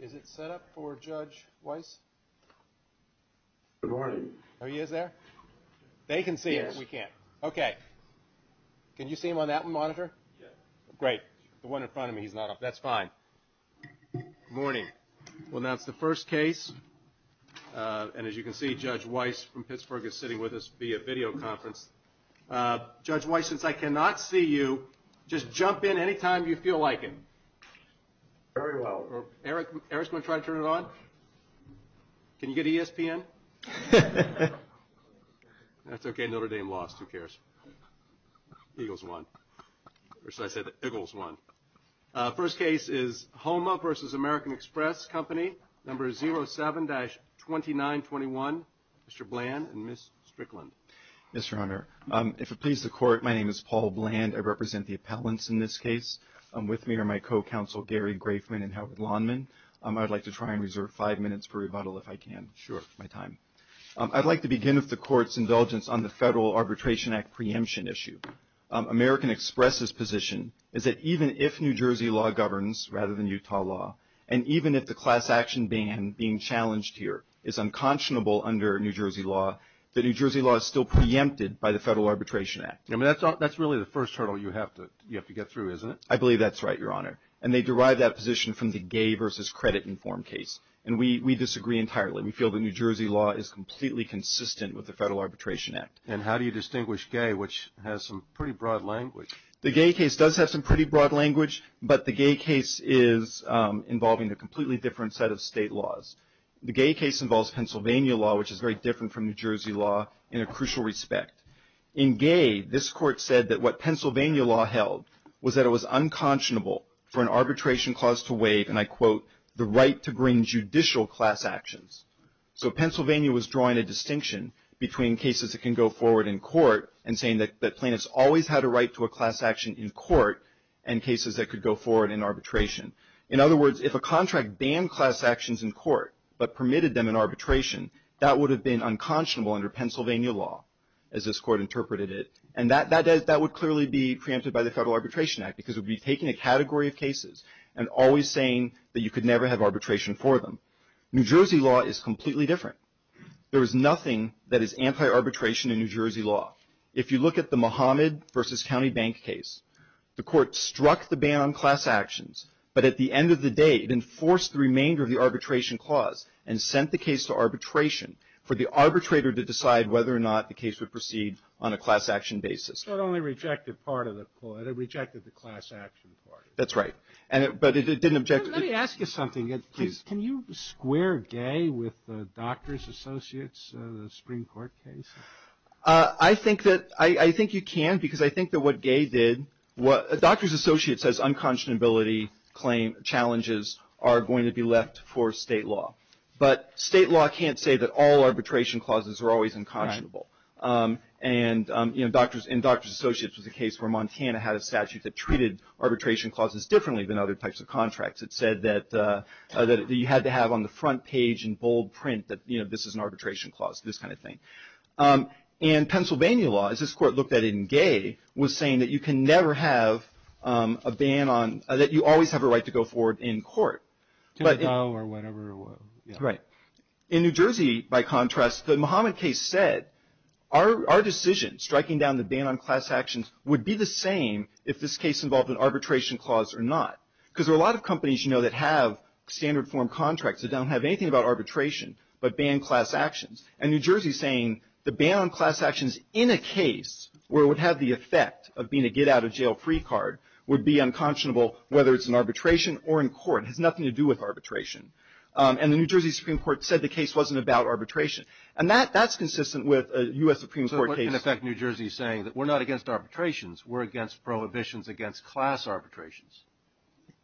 Is it set up for Judge Weiss? Good morning. Oh, he is there? They can see him, we can't. Okay. Can you see him on that monitor? Yeah. Great. The one in front of me, he's not up. That's fine. Morning. We'll announce the first case, and as you can see, Judge Weiss from Pittsburgh is sitting with us via video conference. Judge Weiss, since I cannot see you, just jump in any time you feel like it. Very well. Eric, Eric's going to try to turn it on. Can you get ESPN? That's okay, Notre Dame lost, who cares? Eagles won. Or should I say that Iggles won. First case is HOMA versus American Express Company, number 07-2921. Mr. Bland and Ms. Strickland. Mr. Honor, if it please the court, my name is Paul Bland. I represent the appellants in this case. With me are my co-counsel Gary Grafman and Howard Lawnman. I'd like to try and reserve five minutes for rebuttal if I can. Sure. My time. I'd like to begin with the court's indulgence on the Federal Arbitration Act preemption issue. American Express's position is that even if New Jersey law governs, rather than Utah law, and even if the class action ban being challenged here is unconscionable under New Jersey law, the New Jersey law is still preempted by the Federal Arbitration Act. I mean, that's really the first hurdle you have to get through, isn't it? I believe that's right, Your Honor. And they derive that position from the gay versus credit-informed case. And we disagree entirely. We feel that New Jersey law is completely consistent with the Federal Arbitration Act. And how do you distinguish gay, which has some pretty broad language? The gay case does have some pretty broad language, but the gay case is involving a completely different set of state laws. The gay case involves Pennsylvania law, which is very different from New Jersey law in a crucial respect. In gay, this court said that what Pennsylvania law held was that it was unconscionable for an arbitration clause to waive, and I quote, the right to bring judicial class actions. So Pennsylvania was drawing a distinction between cases that can go forward in court and saying that plaintiffs always had a right to a class action in court and cases that could go forward in arbitration. In other words, if a contract banned class actions in court but permitted them in arbitration, that would have been unconscionable under Pennsylvania law, as this court interpreted it. And that would clearly be preempted by the Federal Arbitration Act because it would be taking a category of cases and always saying that you could never have arbitration for them. New Jersey law is completely different. There is nothing that is anti-arbitration in New Jersey law. If you look at the Muhammad versus County Bank case, the court struck the ban on class actions, but at the end of the day, it enforced the remainder of the arbitration clause and sent the case to arbitration for the arbitrator to decide whether or not the case would proceed on a class action basis. So it only rejected part of the clause. It rejected the class action part. That's right. But it didn't object. Let me ask you something. Can you square gay with the Doctors Associates Supreme Court case? I think that you can because I think that what gay did, Doctors Associates says unconscionability challenges are going to be left for state law. But state law can't say that all arbitration clauses are always unconscionable. And Doctors Associates was a case where Montana had a statute that treated arbitration clauses differently than other types of contracts. It said that you had to have on the front page in bold print that this is an arbitration clause, this kind of thing. And Pennsylvania law, as this court looked at it in gay, was saying that you can never have a ban on that you always have a right to go forward in court. To go or whatever. Right. In New Jersey, by contrast, the Muhammad case said our decision, striking down the ban on class actions, would be the same if this case involved an arbitration clause or not. Because there are a lot of companies, you know, that have standard form contracts that don't have anything about arbitration but ban class actions. And New Jersey is saying the ban on class actions in a case where it would have the effect of being a get out of jail free card would be unconscionable whether it's in arbitration or in court. It has nothing to do with arbitration. And the New Jersey Supreme Court said the case wasn't about arbitration. And that's consistent with a U.S. Supreme Court case. So what can affect New Jersey saying that we're not against arbitrations, we're against prohibitions against class arbitrations?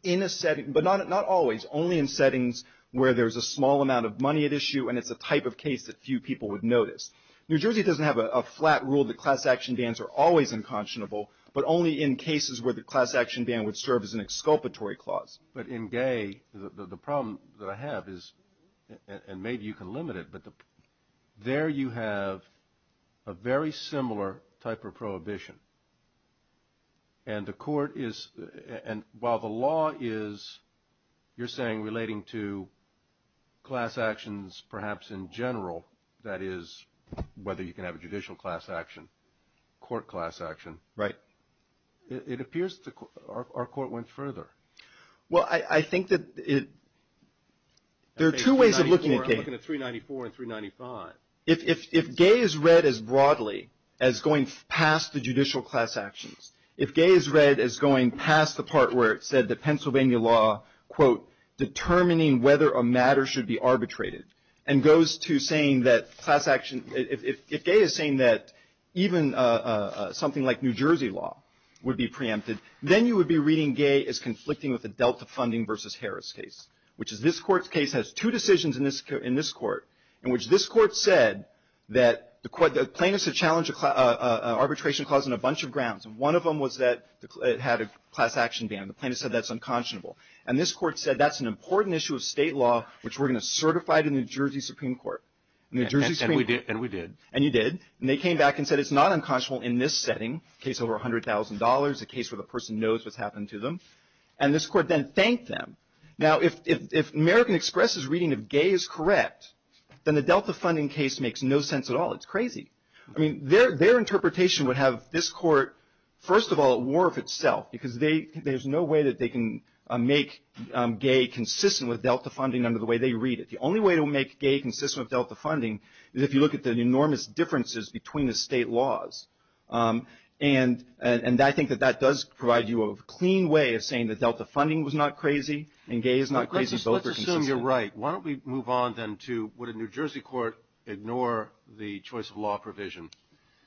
In a setting, but not always. Only in settings where there's a small amount of money at issue and it's a type of case that few people would notice. New Jersey doesn't have a flat rule that class action bans are always unconscionable. But only in cases where the class action ban would serve as an exculpatory clause. But in Gay, the problem that I have is, and maybe you can limit it, but there you have a very similar type of prohibition. And the court is, and while the law is, you're saying, relating to class actions perhaps in general, that is whether you can have a judicial class action, court class action. Right. It appears our court went further. Well, I think that there are two ways of looking at Gay. I'm looking at 394 and 395. If Gay is read as broadly as going past the judicial class actions, if Gay is read as going past the part where it said that Pennsylvania law, quote, determining whether a matter should be arbitrated, and goes to saying that class action, if Gay is saying that even something like New Jersey law would be preempted, then you would be reading Gay as conflicting with the Delta Funding versus Harris case, which is this court's case has two decisions in this court, in which this court said that the plaintiffs have challenged an arbitration clause on a bunch of grounds. And one of them was that it had a class action ban. The plaintiffs said that's unconscionable. And this court said that's an important issue of state law, which we're going to certify to New Jersey Supreme Court. And New Jersey Supreme Court. And we did. And you did. And they came back and said it's not unconscionable in this setting, case over $100,000, a case where the person knows what's happened to them. And this court then thanked them. Now, if American Express' reading of Gay is correct, then the Delta Funding case makes no sense at all. It's crazy. I mean, their interpretation would have this court, first of all, at war with itself, because there's no way that they can make Gay consistent with Delta Funding under the way they read it. The only way to make Gay consistent with Delta Funding is if you look at the enormous differences between the state laws. And I think that that does provide you a clean way of saying that Delta Funding was not crazy and Gay is not crazy. Both are consistent. Let's assume you're right. Why don't we move on then to would a New Jersey court ignore the choice of law provision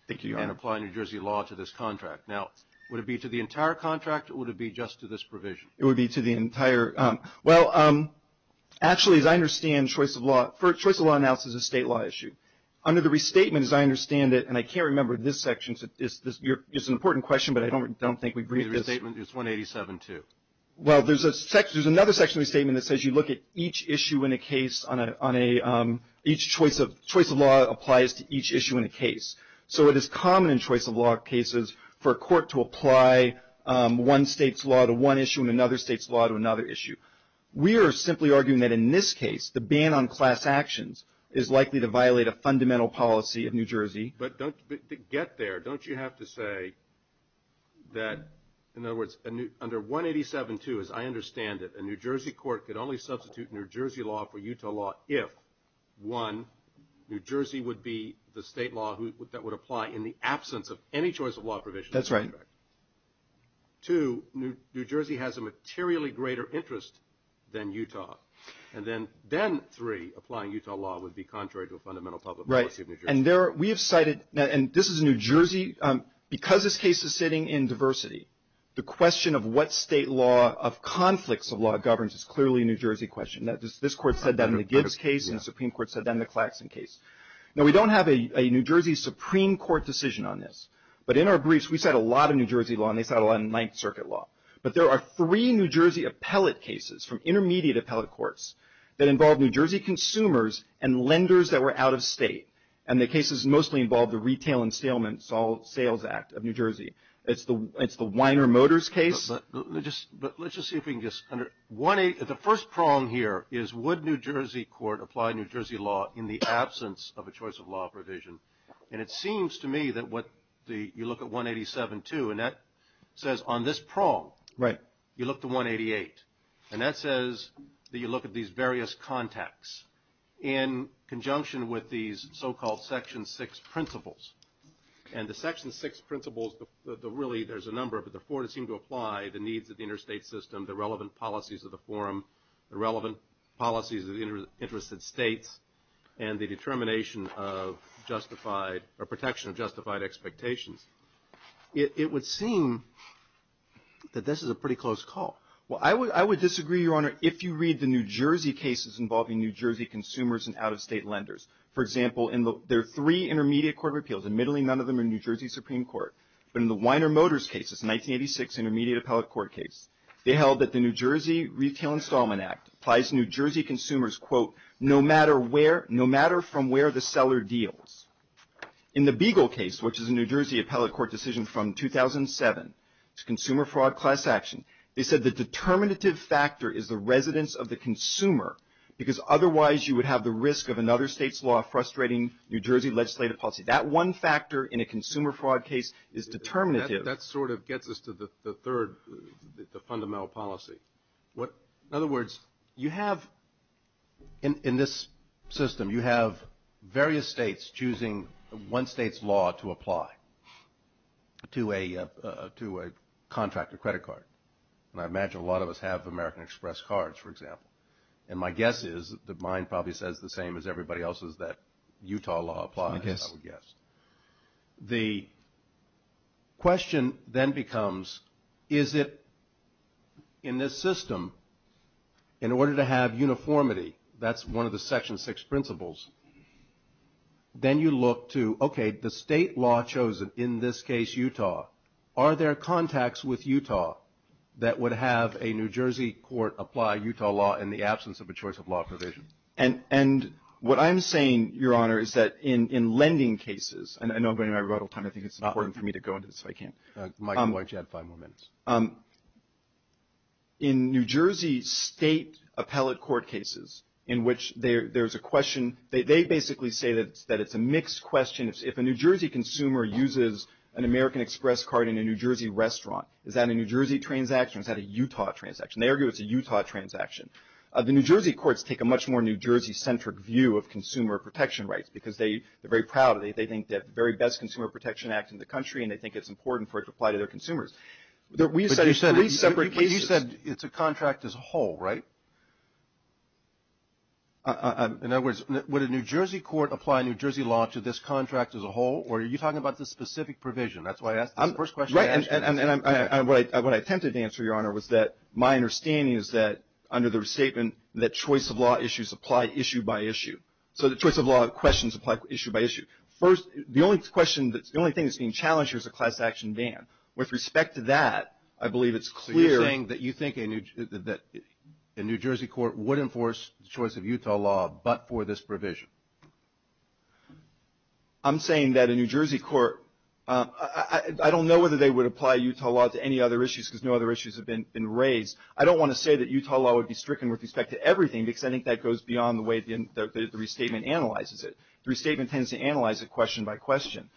and apply New Jersey law to this contract? Now, would it be to the entire contract or would it be just to this provision? It would be to the entire. Well, actually, as I understand choice of law, everyone else is a state law issue. Under the restatement, as I understand it, and I can't remember this section, it's an important question, but I don't think we've read the statement. It's 187-2. Well, there's another section of the statement that says you look at each issue in a case on a, each choice of law applies to each issue in a case. So it is common in choice of law cases for a court to apply one state's law to one issue and another state's law to another issue. We are simply arguing that in this case, the ban on class actions is likely to violate a fundamental policy of New Jersey. But don't, to get there, don't you have to say that, in other words, under 187-2, as I understand it, a New Jersey court could only substitute New Jersey law for Utah law if, one, New Jersey would be the state law that would apply in the absence of any choice of law provision. That's right. Two, New Jersey has a materially greater interest than Utah. And then, three, applying Utah law would be contrary to a fundamental public policy of New Jersey. Right, and there, we have cited, and this is New Jersey, because this case is sitting in diversity, the question of what state law of conflicts of law governs is clearly a New Jersey question. This court said that in the Gibbs case and the Supreme Court said that in the Claxton case. Now, we don't have a New Jersey Supreme Court decision on this, but in our briefs, we cite a lot of New Jersey law and they cite a lot of Ninth Circuit law. But there are three New Jersey appellate cases from intermediate appellate courts that involve New Jersey consumers and lenders that were out of state. And the cases mostly involve the Retail and Sales Act of New Jersey. It's the Weiner Motors case. But let's just see if we can just, the first prong here is, would New Jersey court apply New Jersey law in the absence of a choice of law provision? And it seems to me that what the, you look at 187.2, and that says on this prong, you look to 188, and that says that you look at these various contexts in conjunction with these so-called Section 6 principles. And the Section 6 principles, really there's a number, but the four that seem to apply, the needs of the interstate system, the relevant policies of the forum, the relevant policies of the interested states, and the determination of justified, or protection of justified expectations, it would seem that this is a pretty close call. Well, I would disagree, Your Honor, if you read the New Jersey cases involving New Jersey consumers and out-of-state lenders. For example, in their three intermediate court of appeals, admittedly none of them are New Jersey Supreme Court, but in the Weiner Motors case, it's a 1986 intermediate appellate court case, they held that the New Jersey Retail Installment Act applies to New Jersey consumers, quote, no matter where, no matter from where the seller deals. In the Beagle case, which is a New Jersey appellate court decision from 2007, it's a consumer fraud class action, they said the determinative factor is the residence of the consumer, because otherwise you would have the risk of another state's law frustrating New Jersey legislative policy. That one factor in a consumer fraud case is determinative. That sort of gets us to the third, the fundamental policy. In other words, you have in this system, you have various states choosing one state's law to apply to a contract, a credit card. And I imagine a lot of us have American Express cards, for example. And my guess is that mine probably says the same as everybody else's that Utah law applies, I would guess. The question then becomes, is it in this system, in order to have uniformity, that's one of the Section 6 principles, then you look to, okay, the state law chosen, in this case Utah, are there contacts with Utah that would have a New Jersey court apply Utah law in the absence of a choice of law provision? And what I'm saying, Your Honor, is that in lending cases, and I know I'm going to run out of time. I think it's important for me to go into this if I can. Mike, why don't you add five more minutes? In New Jersey state appellate court cases in which there's a question, they basically say that it's a mixed question. If a New Jersey consumer uses an American Express card in a New Jersey restaurant, is that a New Jersey transaction? Is that a Utah transaction? They argue it's a Utah transaction. The New Jersey courts take a much more New Jersey-centric view of consumer protection rights because they're very proud of it. They think that the very best consumer protection act in the country, and they think it's important for it to apply to their consumers. But you said it's a contract as a whole, right? In other words, would a New Jersey court apply New Jersey law to this contract as a whole, or are you talking about the specific provision? That's why I asked the first question. Right, and what I attempted to answer, Your Honor, was that my understanding is that under the statement that choice of law issues apply issue by issue. So the choice of law questions apply issue by issue. First, the only thing that's being challenged here is a class action ban. With respect to that, I believe it's clear. So you're saying that you think a New Jersey court would enforce the choice of Utah law but for this provision? I'm saying that a New Jersey court, I don't know whether they would apply Utah law to any other issues because no other issues have been raised. I don't want to say that Utah law would be stricken with respect to everything because I think that goes beyond the way the restatement analyzes it. The restatement tends to analyze it question by question.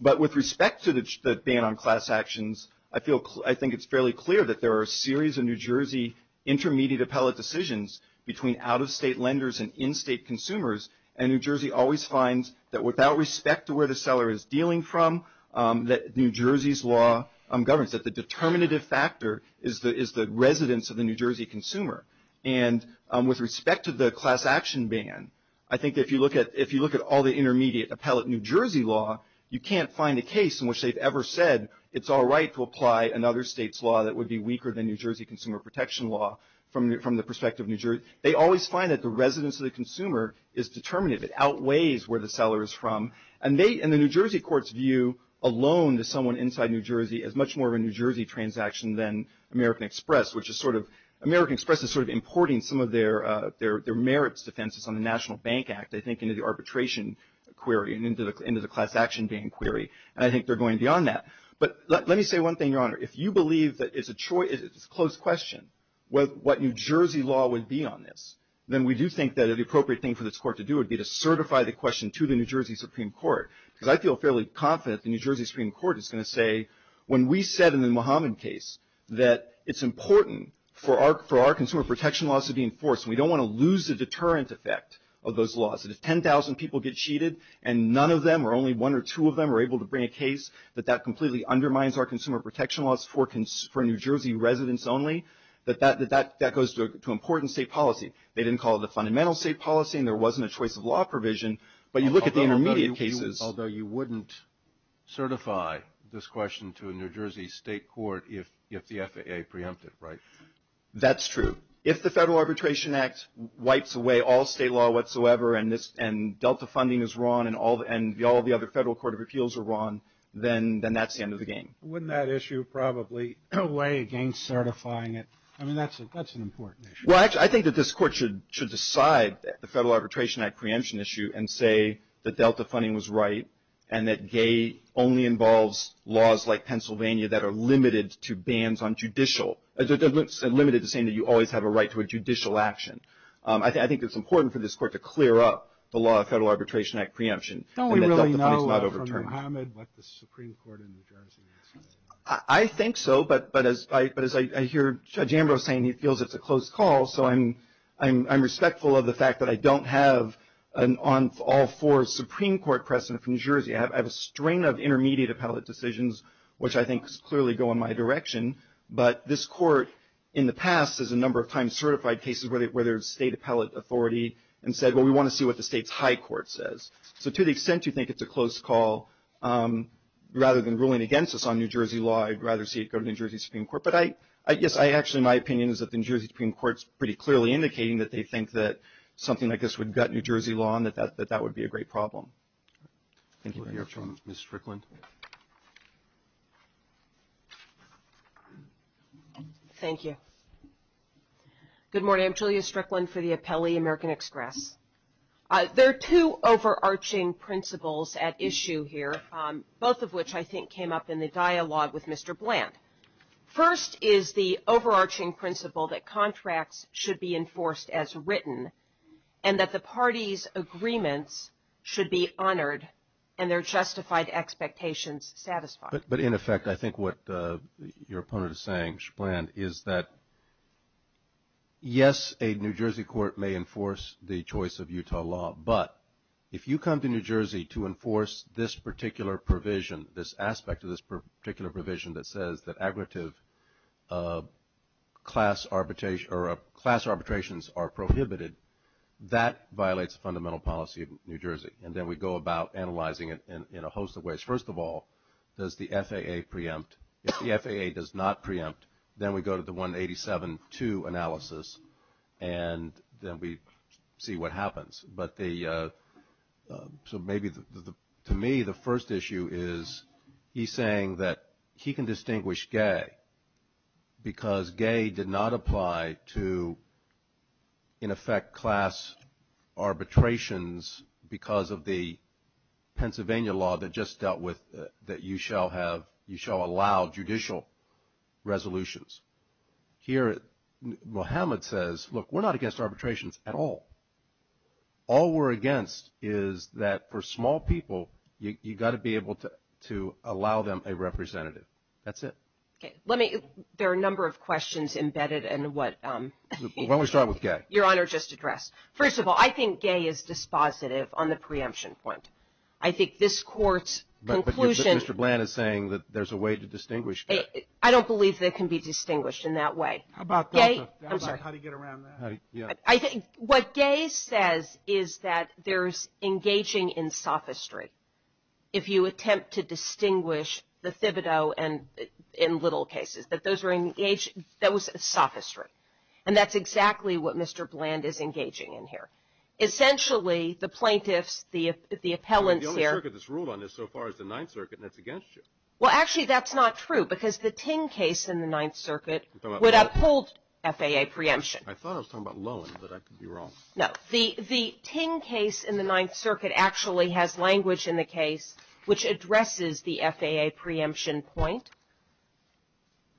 But with respect to the ban on class actions, I think it's fairly clear that there are a series of New Jersey intermediate appellate decisions between out-of-state lenders and in-state consumers. And New Jersey always finds that without respect to where the seller is dealing from, that New Jersey's law governs, that the determinative factor is the residence of the New Jersey consumer. And with respect to the class action ban, I think if you look at all the intermediate appellate New Jersey law, you can't find a case in which they've ever said it's all right to apply another state's law that would be weaker than New Jersey consumer protection law from the perspective of New Jersey. They always find that the residence of the consumer is determinative. It outweighs where the seller is from. And the New Jersey courts view a loan to someone inside New Jersey as much more of a New Jersey transaction than American Express, which American Express is sort of importing some of their merits defenses on the National Bank Act, I think, into the arbitration query and into the class action ban query. And I think they're going beyond that. But let me say one thing, Your Honor. If you believe that it's a close question what New Jersey law would be on this, then we do think that the appropriate thing for this court to do would be to certify the question to the New Jersey Supreme Court. Because I feel fairly confident the New Jersey Supreme Court is going to say, when we said in the Muhammad case that it's important for our consumer protection laws to be enforced and we don't want to lose the deterrent effect of those laws, that if 10,000 people get cheated and none of them or only one or two of them are able to bring a case, that that completely undermines our consumer protection laws for New Jersey residents only, that that goes to important state policy. They didn't call it a fundamental state policy and there wasn't a choice of law provision, but you look at the intermediate cases. Although you wouldn't certify this question to a New Jersey state court if the FAA preempted, right? That's true. If the Federal Arbitration Act wipes away all state law whatsoever and Delta funding is wrong and all the other federal court of appeals are wrong, then that's the end of the game. Wouldn't that issue probably weigh against certifying it? I mean, that's an important issue. Well, actually, I think that this court should decide the Federal Arbitration Act preemption issue and say that Delta funding was right and that GAE only involves laws like Pennsylvania that are limited to bans on judicial, limited to saying that you always have a right to a judicial action. I think it's important for this court to clear up the law of Federal Arbitration Act preemption. Don't we really know from Muhammad what the Supreme Court in New Jersey has said? I think so, but as I hear Judge Ambrose saying he feels it's a close call, so I'm respectful of the fact that I don't have an all four Supreme Court precedent from New Jersey. I have a strain of intermediate appellate decisions, which I think clearly go in my direction, but this court in the past has a number of times certified cases where there's state appellate authority and said, well, we want to see what the state's high court says. So to the extent you think it's a close call, rather than ruling against us on New Jersey law, I'd rather see it go to the New Jersey Supreme Court. But I guess actually my opinion is that the New Jersey Supreme Court is pretty clearly indicating that they think that something like this would gut New Jersey law and that that would be a great problem. Thank you very much. Ms. Strickland. Thank you. Good morning. I'm Julia Strickland for the Appellee American Express. There are two overarching principles at issue here, both of which I think came up in the dialogue with Mr. Bland. First is the overarching principle that contracts should be enforced as written and that the parties' agreements should be honored and their justified expectations satisfied. But in effect, I think what your opponent is saying, Mr. Bland, is that, yes, a New Jersey court may enforce the choice of Utah law, but if you come to New Jersey to enforce this particular provision, this aspect of this particular provision that says that class arbitrations are prohibited, that violates the fundamental policy of New Jersey. And then we go about analyzing it in a host of ways. First of all, does the FAA preempt? If the FAA does not preempt, then we go to the 187-2 analysis, and then we see what happens. So maybe to me the first issue is he's saying that he can distinguish gay because gay did not apply to, in effect, class arbitrations because of the Pennsylvania law that just dealt with that you shall allow judicial resolutions. Here, Mohammed says, look, we're not against arbitrations at all. All we're against is that for small people, you've got to be able to allow them a representative. That's it. Okay. Let me – there are a number of questions embedded in what – Why don't we start with gay? Your Honor, just to address. First of all, I think gay is dispositive on the preemption point. I think this court's conclusion – But Mr. Bland is saying that there's a way to distinguish gay. I don't believe they can be distinguished in that way. How about how to get around that? I think what gay says is that there's engaging in sophistry. If you attempt to distinguish the Thibodeau in little cases, that those are engaged – that was sophistry. And that's exactly what Mr. Bland is engaging in here. Essentially, the plaintiffs, the appellants here – The only circuit that's ruled on this so far is the Ninth Circuit, and it's against you. Well, actually, that's not true because the Ting case in the Ninth Circuit would uphold FAA preemption. I thought I was talking about Loewen, but I could be wrong. No. The Ting case in the Ninth Circuit actually has language in the case which addresses the FAA preemption point.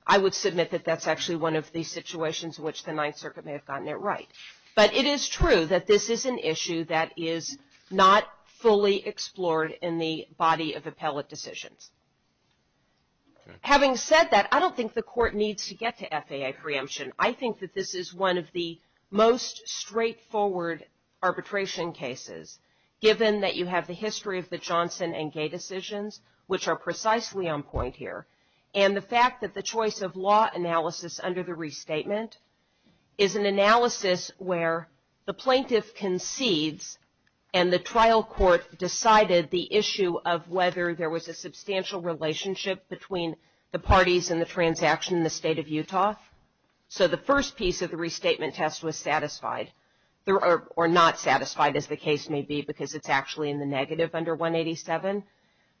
I would submit that that's actually one of the situations in which the Ninth Circuit may have gotten it right. But it is true that this is an issue that is not fully explored in the body of appellate decisions. Having said that, I don't think the Court needs to get to FAA preemption. I think that this is one of the most straightforward arbitration cases, given that you have the history of the Johnson and Gay decisions, which are precisely on point here, and the fact that the choice of law analysis under the restatement is an analysis where the plaintiff concedes and the trial court decided the issue of whether there was a substantial relationship between the parties and the transaction in the State of Utah. So the first piece of the restatement test was satisfied or not satisfied, as the case may be, because it's actually in the negative under 187.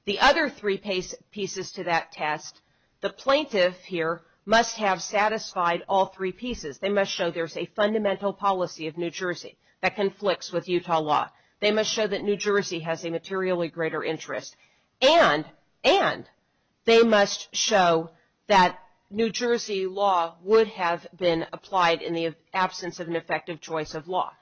The other three pieces to that test, the plaintiff here must have satisfied all three pieces. They must show there's a fundamental policy of New Jersey that conflicts with Utah law. They must show that New Jersey has a materially greater interest, and they must show that New Jersey law would have been applied in the absence of an effective choice of law.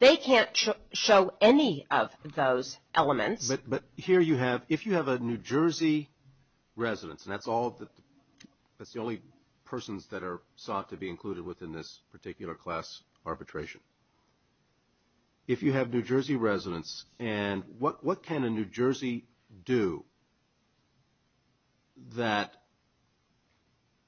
They can't show any of those elements. But here you have, if you have a New Jersey residence, and that's the only persons that are sought to be included within this particular class arbitration. If you have New Jersey residence, and what can a New Jersey do that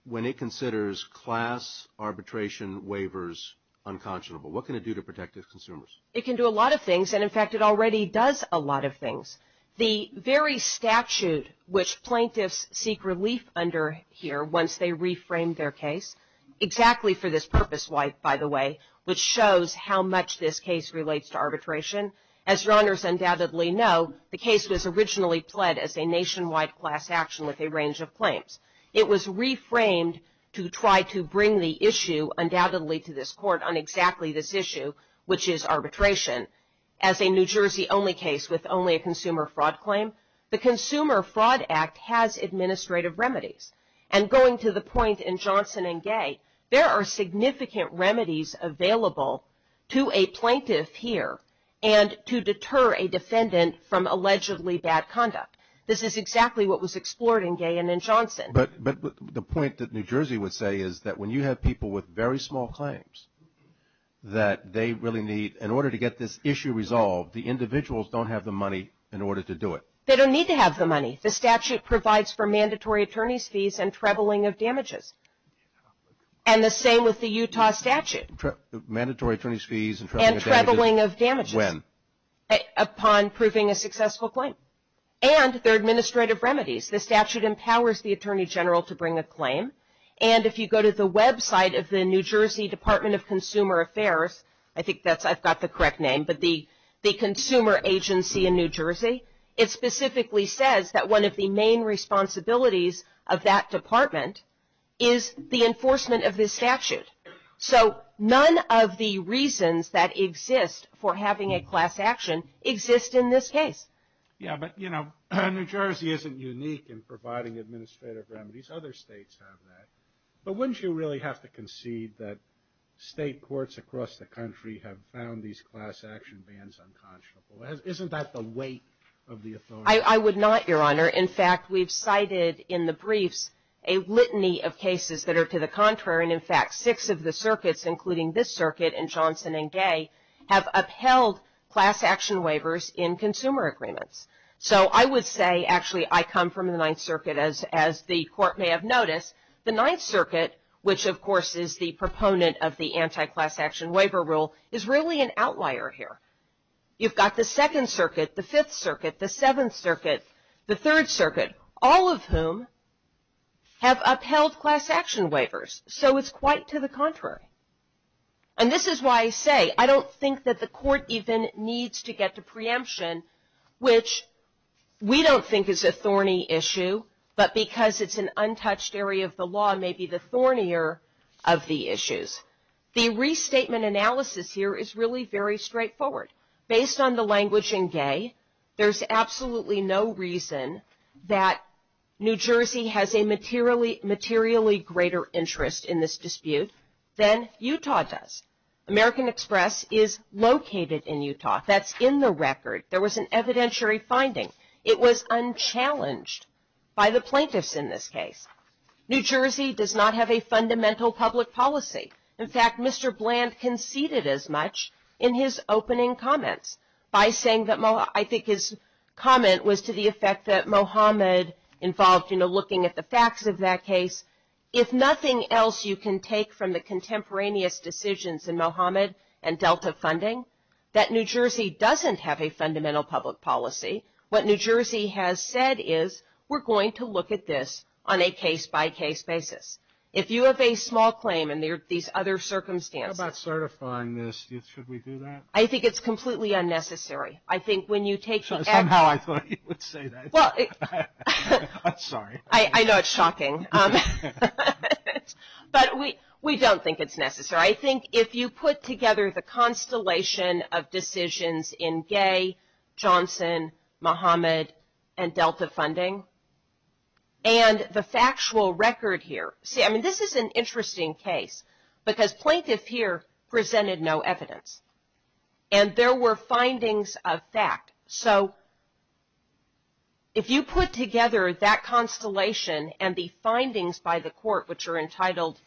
when it considers class arbitration waivers unconscionable? What can it do to protect its consumers? It can do a lot of things, and in fact, it already does a lot of things. The very statute which plaintiffs seek relief under here once they reframe their case, exactly for this purpose, by the way, which shows how much this case relates to arbitration. As your honors undoubtedly know, the case was originally pled as a nationwide class action with a range of claims. It was reframed to try to bring the issue undoubtedly to this court on exactly this issue, which is arbitration as a New Jersey only case with only a consumer fraud claim. The Consumer Fraud Act has administrative remedies, and going to the point in Johnson and Gay, there are significant remedies available to a plaintiff here and to deter a defendant from allegedly bad conduct. This is exactly what was explored in Gay and in Johnson. But the point that New Jersey would say is that when you have people with very small claims that they really need, in order to get this issue resolved, the individuals don't have the money in order to do it. They don't need to have the money. The statute provides for mandatory attorney's fees and trebling of damages, and the same with the Utah statute. Mandatory attorney's fees and trebling of damages. And trebling of damages. When? Upon proving a successful claim. And there are administrative remedies. The statute empowers the attorney general to bring a claim, and if you go to the website of the New Jersey Department of Consumer Affairs, I think I've got the correct name, but the Consumer Agency in New Jersey, it specifically says that one of the main responsibilities of that department is the enforcement of this statute. So none of the reasons that exist for having a class action exist in this case. Yeah, but, you know, New Jersey isn't unique in providing administrative remedies. Other states have that. But wouldn't you really have to concede that state courts across the country have found these class action bans unconscionable? Isn't that the weight of the authority? I would not, Your Honor. In fact, we've cited in the briefs a litany of cases that are to the contrary, and, in fact, six of the circuits, including this circuit and Johnson and Gay, have upheld class action waivers in consumer agreements. So I would say, actually, I come from the Ninth Circuit, as the Court may have noticed. The Ninth Circuit, which, of course, is the proponent of the anti-class action waiver rule, is really an outlier here. You've got the Second Circuit, the Fifth Circuit, the Seventh Circuit, the Third Circuit, all of whom have upheld class action waivers. So it's quite to the contrary. And this is why I say I don't think that the Court even needs to get to preemption, which we don't think is a thorny issue, but because it's an untouched area of the law may be the thornier of the issues. The restatement analysis here is really very straightforward. Based on the language in Gay, there's absolutely no reason that New Jersey has a materially greater interest in this dispute than Utah does. American Express is located in Utah. That's in the record. There was an evidentiary finding. It was unchallenged by the plaintiffs in this case. New Jersey does not have a fundamental public policy. In fact, Mr. Bland conceded as much in his opening comments by saying that I think his comment was to the effect that Mohammed involved, you know, looking at the facts of that case. If nothing else you can take from the contemporaneous decisions in Mohammed and Delta funding, that New Jersey doesn't have a fundamental public policy. What New Jersey has said is we're going to look at this on a case-by-case basis. If you have a small claim and there are these other circumstances. How about certifying this? Should we do that? I think it's completely unnecessary. I think when you take the act. Somehow I thought you would say that. I'm sorry. I know it's shocking. But we don't think it's necessary. I think if you put together the constellation of decisions in Gay, Johnson, Mohammed, and Delta funding, and the factual record here. See, I mean this is an interesting case because plaintiff here presented no evidence. And there were findings of fact. So if you put together that constellation and the findings by the court, which are entitled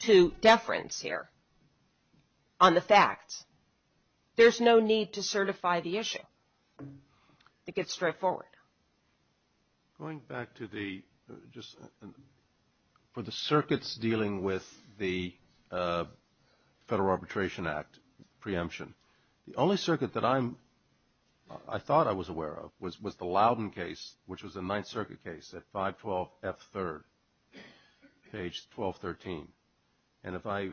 to deference here on the facts, there's no need to certify the issue. I think it's straightforward. Going back to the just for the circuits dealing with the Federal Arbitration Act preemption, the only circuit that I thought I was aware of was the Loudon case, which was a Ninth Circuit case at 512F3rd, page 1213. And if I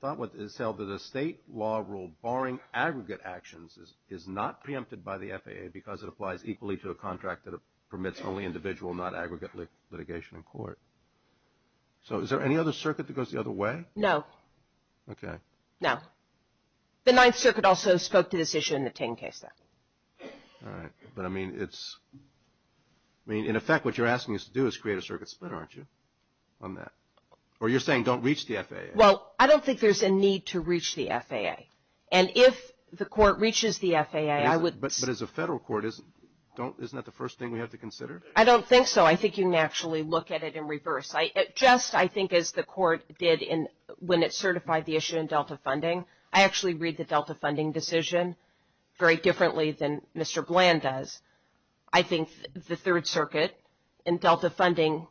thought it was held that a state law rule barring aggregate actions is not preempted by the FAA because it applies equally to a contract that permits only individual, not aggregate litigation in court. So is there any other circuit that goes the other way? No. Okay. No. The Ninth Circuit also spoke to this issue in the Ting case though. All right. But, I mean, it's – I mean, in effect, what you're asking us to do is create a circuit split, aren't you, on that? Or you're saying don't reach the FAA? Well, I don't think there's a need to reach the FAA. And if the court reaches the FAA, I would – But as a federal court, isn't that the first thing we have to consider? I don't think so. I think you can actually look at it in reverse. Just, I think, as the court did when it certified the issue in Delta Funding, I actually read the Delta Funding decision very differently than Mr. Bland does. I think the Third Circuit in Delta Funding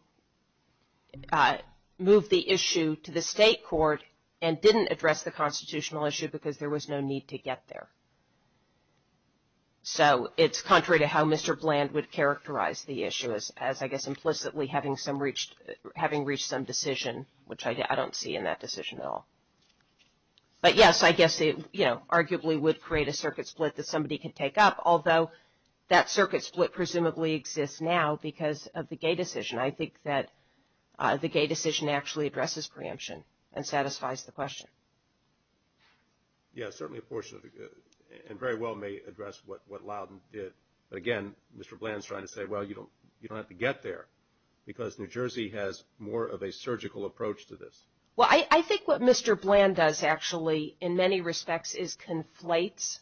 moved the issue to the state court and didn't address the constitutional issue because there was no need to get there. So it's contrary to how Mr. Bland would characterize the issue as, I guess, implicitly having reached some decision, which I don't see in that decision at all. But, yes, I guess it, you know, arguably would create a circuit split that somebody could take up, although that circuit split presumably exists now because of the gay decision. I think that the gay decision actually addresses preemption and satisfies the question. Yes, certainly a portion of it, and very well may address what Loudon did. But, again, Mr. Bland is trying to say, well, you don't have to get there because New Jersey has more of a surgical approach to this. Well, I think what Mr. Bland does actually in many respects is conflates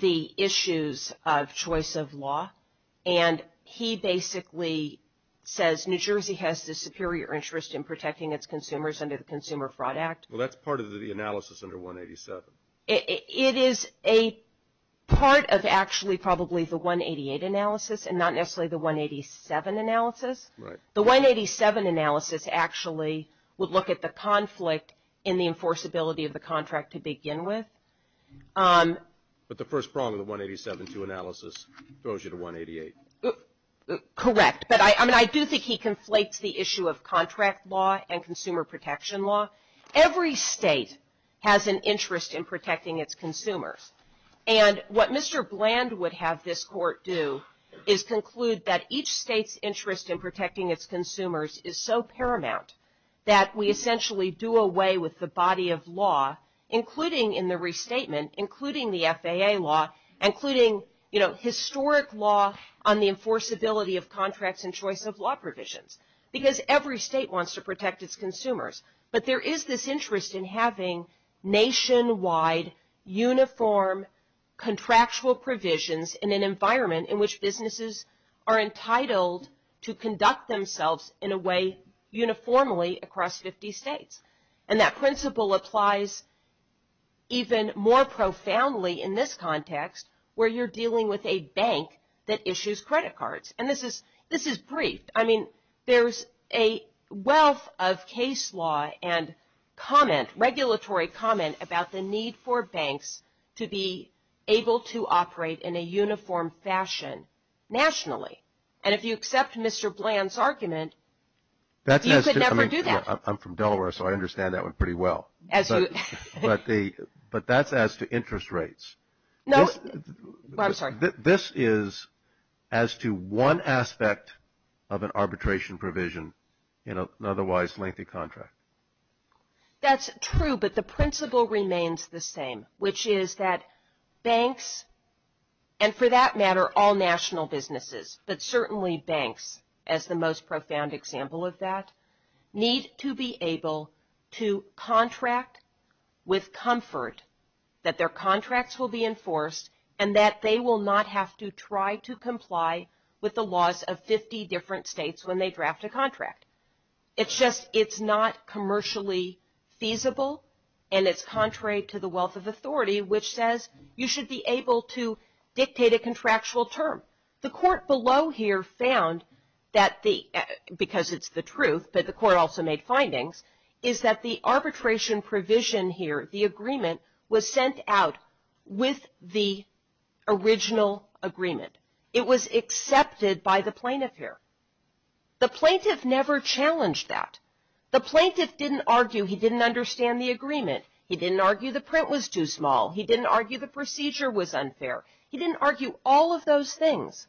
the issues of choice of law. And he basically says New Jersey has the superior interest in protecting its consumers under the Consumer Fraud Act. Well, that's part of the analysis under 187. It is a part of actually probably the 188 analysis and not necessarily the 187 analysis. Right. The 187 analysis actually would look at the conflict in the enforceability of the contract to begin with. But the first prong of the 187-2 analysis throws you to 188. Correct. But, I mean, I do think he conflates the issue of contract law and consumer protection law. Every state has an interest in protecting its consumers. And what Mr. Bland would have this court do is conclude that each state's interest in protecting its consumers is so paramount that we essentially do away with the body of law, including in the restatement, including the FAA law, including, you know, historic law on the enforceability of contracts and choice of law provisions, because every state wants to protect its consumers. But there is this interest in having nationwide uniform contractual provisions in an environment in which businesses are entitled to conduct themselves in a way uniformly across 50 states. And that principle applies even more profoundly in this context, where you're dealing with a bank that issues credit cards. And this is brief. I mean, there's a wealth of case law and comment, regulatory comment, about the need for banks to be able to operate in a uniform fashion nationally. And if you accept Mr. Bland's argument, you could never do that. I'm from Delaware, so I understand that one pretty well. But that's as to interest rates. No, I'm sorry. This is as to one aspect of an arbitration provision in an otherwise lengthy contract. That's true, but the principle remains the same, which is that banks, and for that matter all national businesses, but certainly banks as the most profound example of that, need to be able to contract with comfort that their contracts will be enforced and that they will not have to try to comply with the laws of 50 different states when they draft a contract. It's just it's not commercially feasible, and it's contrary to the wealth of authority, which says you should be able to dictate a contractual term. The court below here found that the, because it's the truth, but the court also made findings, is that the arbitration provision here, the agreement, was sent out with the original agreement. It was accepted by the plaintiff here. The plaintiff never challenged that. The plaintiff didn't argue he didn't understand the agreement. He didn't argue the print was too small. He didn't argue the procedure was unfair. He didn't argue all of those things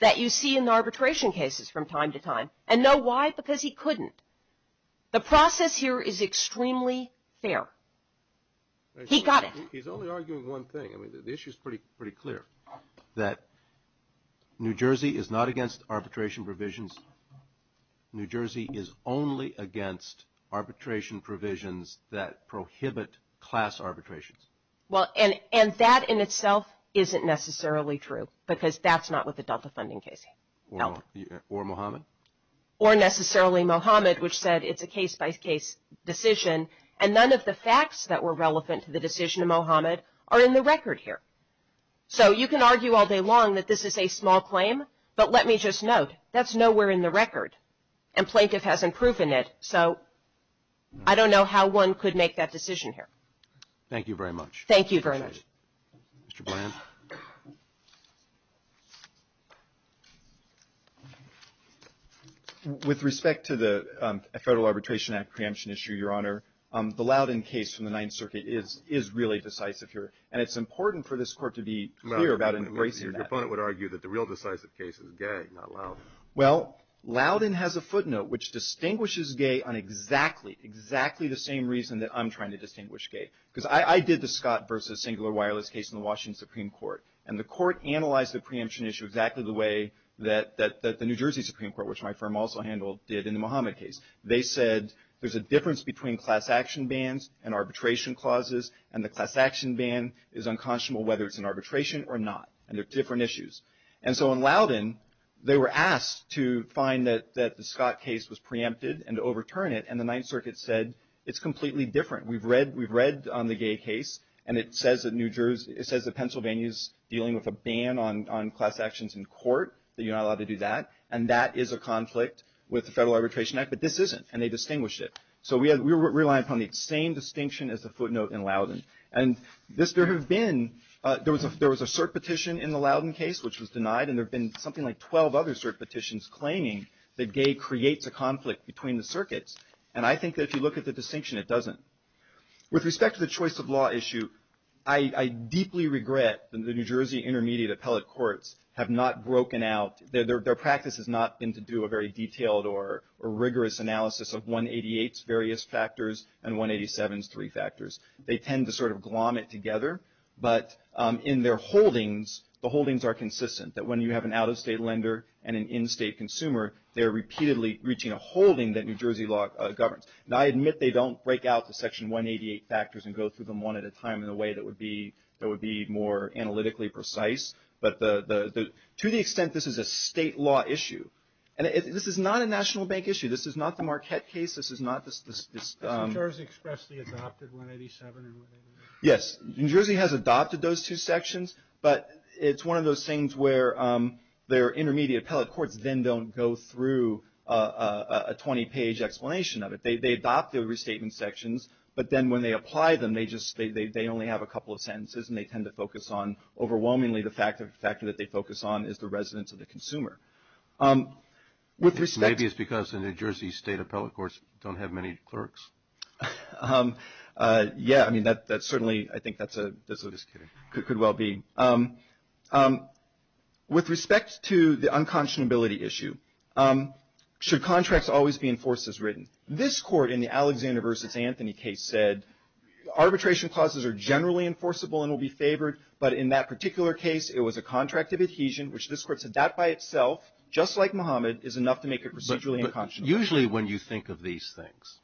that you see in arbitration cases from time to time. And no, why? Because he couldn't. The process here is extremely fair. He got it. He's only arguing one thing. I mean, the issue is pretty clear, that New Jersey is not against arbitration provisions. New Jersey is only against arbitration provisions that prohibit class arbitrations. Well, and that in itself isn't necessarily true, because that's not what the Delta funding case held. Or Mohammed? Or necessarily Mohammed, which said it's a case-by-case decision. And none of the facts that were relevant to the decision of Mohammed are in the record here. So you can argue all day long that this is a small claim, but let me just note, that's nowhere in the record. And plaintiff hasn't proven it. So I don't know how one could make that decision here. Thank you very much. Thank you very much. Mr. Blanton. With respect to the Federal Arbitration Act preemption issue, Your Honor, the Loudon case from the Ninth Circuit is really decisive here. And it's important for this Court to be clear about embracing that. Your opponent would argue that the real decisive case is Gay, not Loudon. Well, Loudon has a footnote which distinguishes Gay on exactly, exactly the same reason that I'm trying to distinguish Gay. Because I did the Scott versus singular wireless case in the Washington Supreme Court. And the Court analyzed the preemption issue exactly the way that the New Jersey Supreme Court, which my firm also handled, did in the Mohammed case. They said there's a difference between class action bans and arbitration clauses. And the class action ban is unconscionable whether it's an arbitration or not. And they're different issues. And so in Loudon, they were asked to find that the Scott case was preempted and to overturn it. And the Ninth Circuit said it's completely different. We've read on the Gay case. And it says that Pennsylvania is dealing with a ban on class actions in court, that you're not allowed to do that. And that is a conflict with the Federal Arbitration Act. But this isn't. And they distinguished it. So we rely upon the same distinction as the footnote in Loudon. And there was a cert petition in the Loudon case which was denied. And there have been something like 12 other cert petitions claiming that Gay creates a conflict between the circuits. And I think that if you look at the distinction, it doesn't. With respect to the choice of law issue, I deeply regret that the New Jersey Intermediate Appellate Courts have not broken out. Their practice has not been to do a very detailed or rigorous analysis of 188's various factors and 187's three factors. They tend to sort of glom it together. But in their holdings, the holdings are consistent, that when you have an out-of-state lender and an in-state consumer, they're repeatedly reaching a holding that New Jersey law governs. And I admit they don't break out the Section 188 factors and go through them one at a time in a way that would be more analytically precise. But to the extent this is a state law issue, and this is not a National Bank issue. This is not the Marquette case. This is not this. New Jersey expressly adopted 187 and 188. Yes. New Jersey has adopted those two sections. But it's one of those things where their Intermediate Appellate Courts then don't go through a 20-page explanation of it. They adopt the restatement sections. But then when they apply them, they only have a couple of sentences. And they tend to focus on overwhelmingly the factor that they focus on is the residence of the consumer. Maybe it's because the New Jersey State Appellate Courts don't have many clerks. Yeah. I mean, that's certainly, I think that could well be. With respect to the unconscionability issue, should contracts always be enforced as written? This Court in the Alexander v. Anthony case said arbitration clauses are generally enforceable and will be favored. But in that particular case, it was a contract of adhesion, which this Court said that by itself, just like Muhammad, is enough to make it procedurally unconscionable. Usually when you think of these things,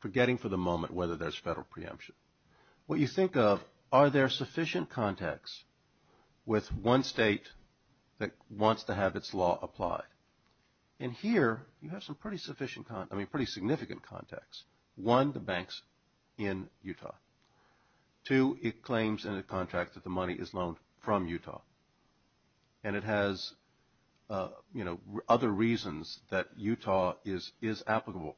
forgetting for the moment whether there's federal preemption, what you think of are there sufficient contacts with one state that wants to have its law applied? And here you have some pretty significant contacts. One, the banks in Utah. Two, it claims in the contract that the money is loaned from Utah. And it has other reasons that Utah is applicable.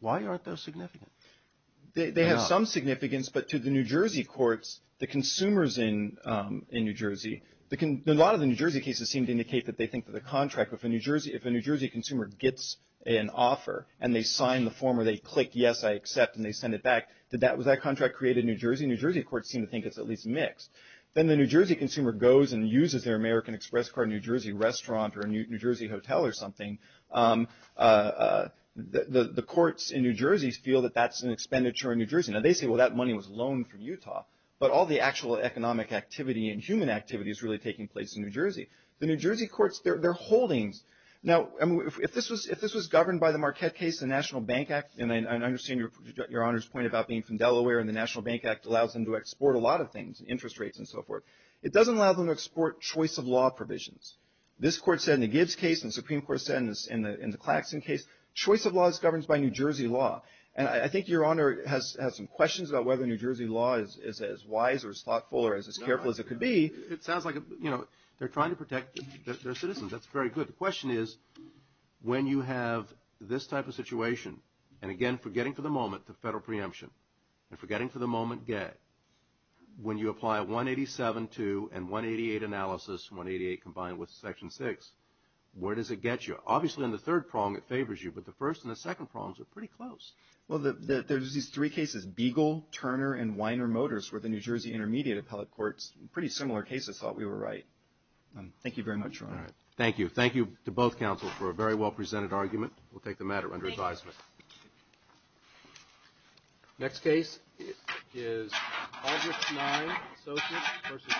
Why aren't those significant? They have some significance, but to the New Jersey courts, the consumers in New Jersey, a lot of the New Jersey cases seem to indicate that they think that the contract, if a New Jersey consumer gets an offer and they sign the form or they click yes, I accept, and they send it back, did that contract create a New Jersey? New Jersey courts seem to think it's at least mixed. Then the New Jersey consumer goes and uses their American Express card in a New Jersey restaurant or a New Jersey hotel or something, the courts in New Jersey feel that that's an expenditure in New Jersey. Now, they say, well, that money was loaned from Utah, but all the actual economic activity and human activity is really taking place in New Jersey. The New Jersey courts, their holdings. Now, if this was governed by the Marquette case, the National Bank Act, and I understand Your Honor's point about being from Delaware, and the National Bank Act allows them to export a lot of things, interest rates and so forth. It doesn't allow them to export choice of law provisions. This court said in the Gibbs case and the Supreme Court said in the Claxton case, choice of law is governed by New Jersey law, and I think Your Honor has some questions about whether New Jersey law is as wise or as thoughtful or as careful as it could be. It sounds like, you know, they're trying to protect their citizens. The question is when you have this type of situation, and again, forgetting for the moment the federal preemption, and forgetting for the moment when you apply 187.2 and 188 analysis, 188 combined with Section 6, where does it get you? Obviously, in the third prong it favors you, but the first and the second prongs are pretty close. Well, there's these three cases, Beagle, Turner, and Weiner Motors, where the New Jersey intermediate appellate courts, pretty similar cases, thought we were right. Thank you very much, Your Honor. Thank you. Thank you to both counsels for a very well presented argument. We'll take the matter under advisement. Thank you. Thank you. Next case is Aldrich-Knein, Associates v. Kline.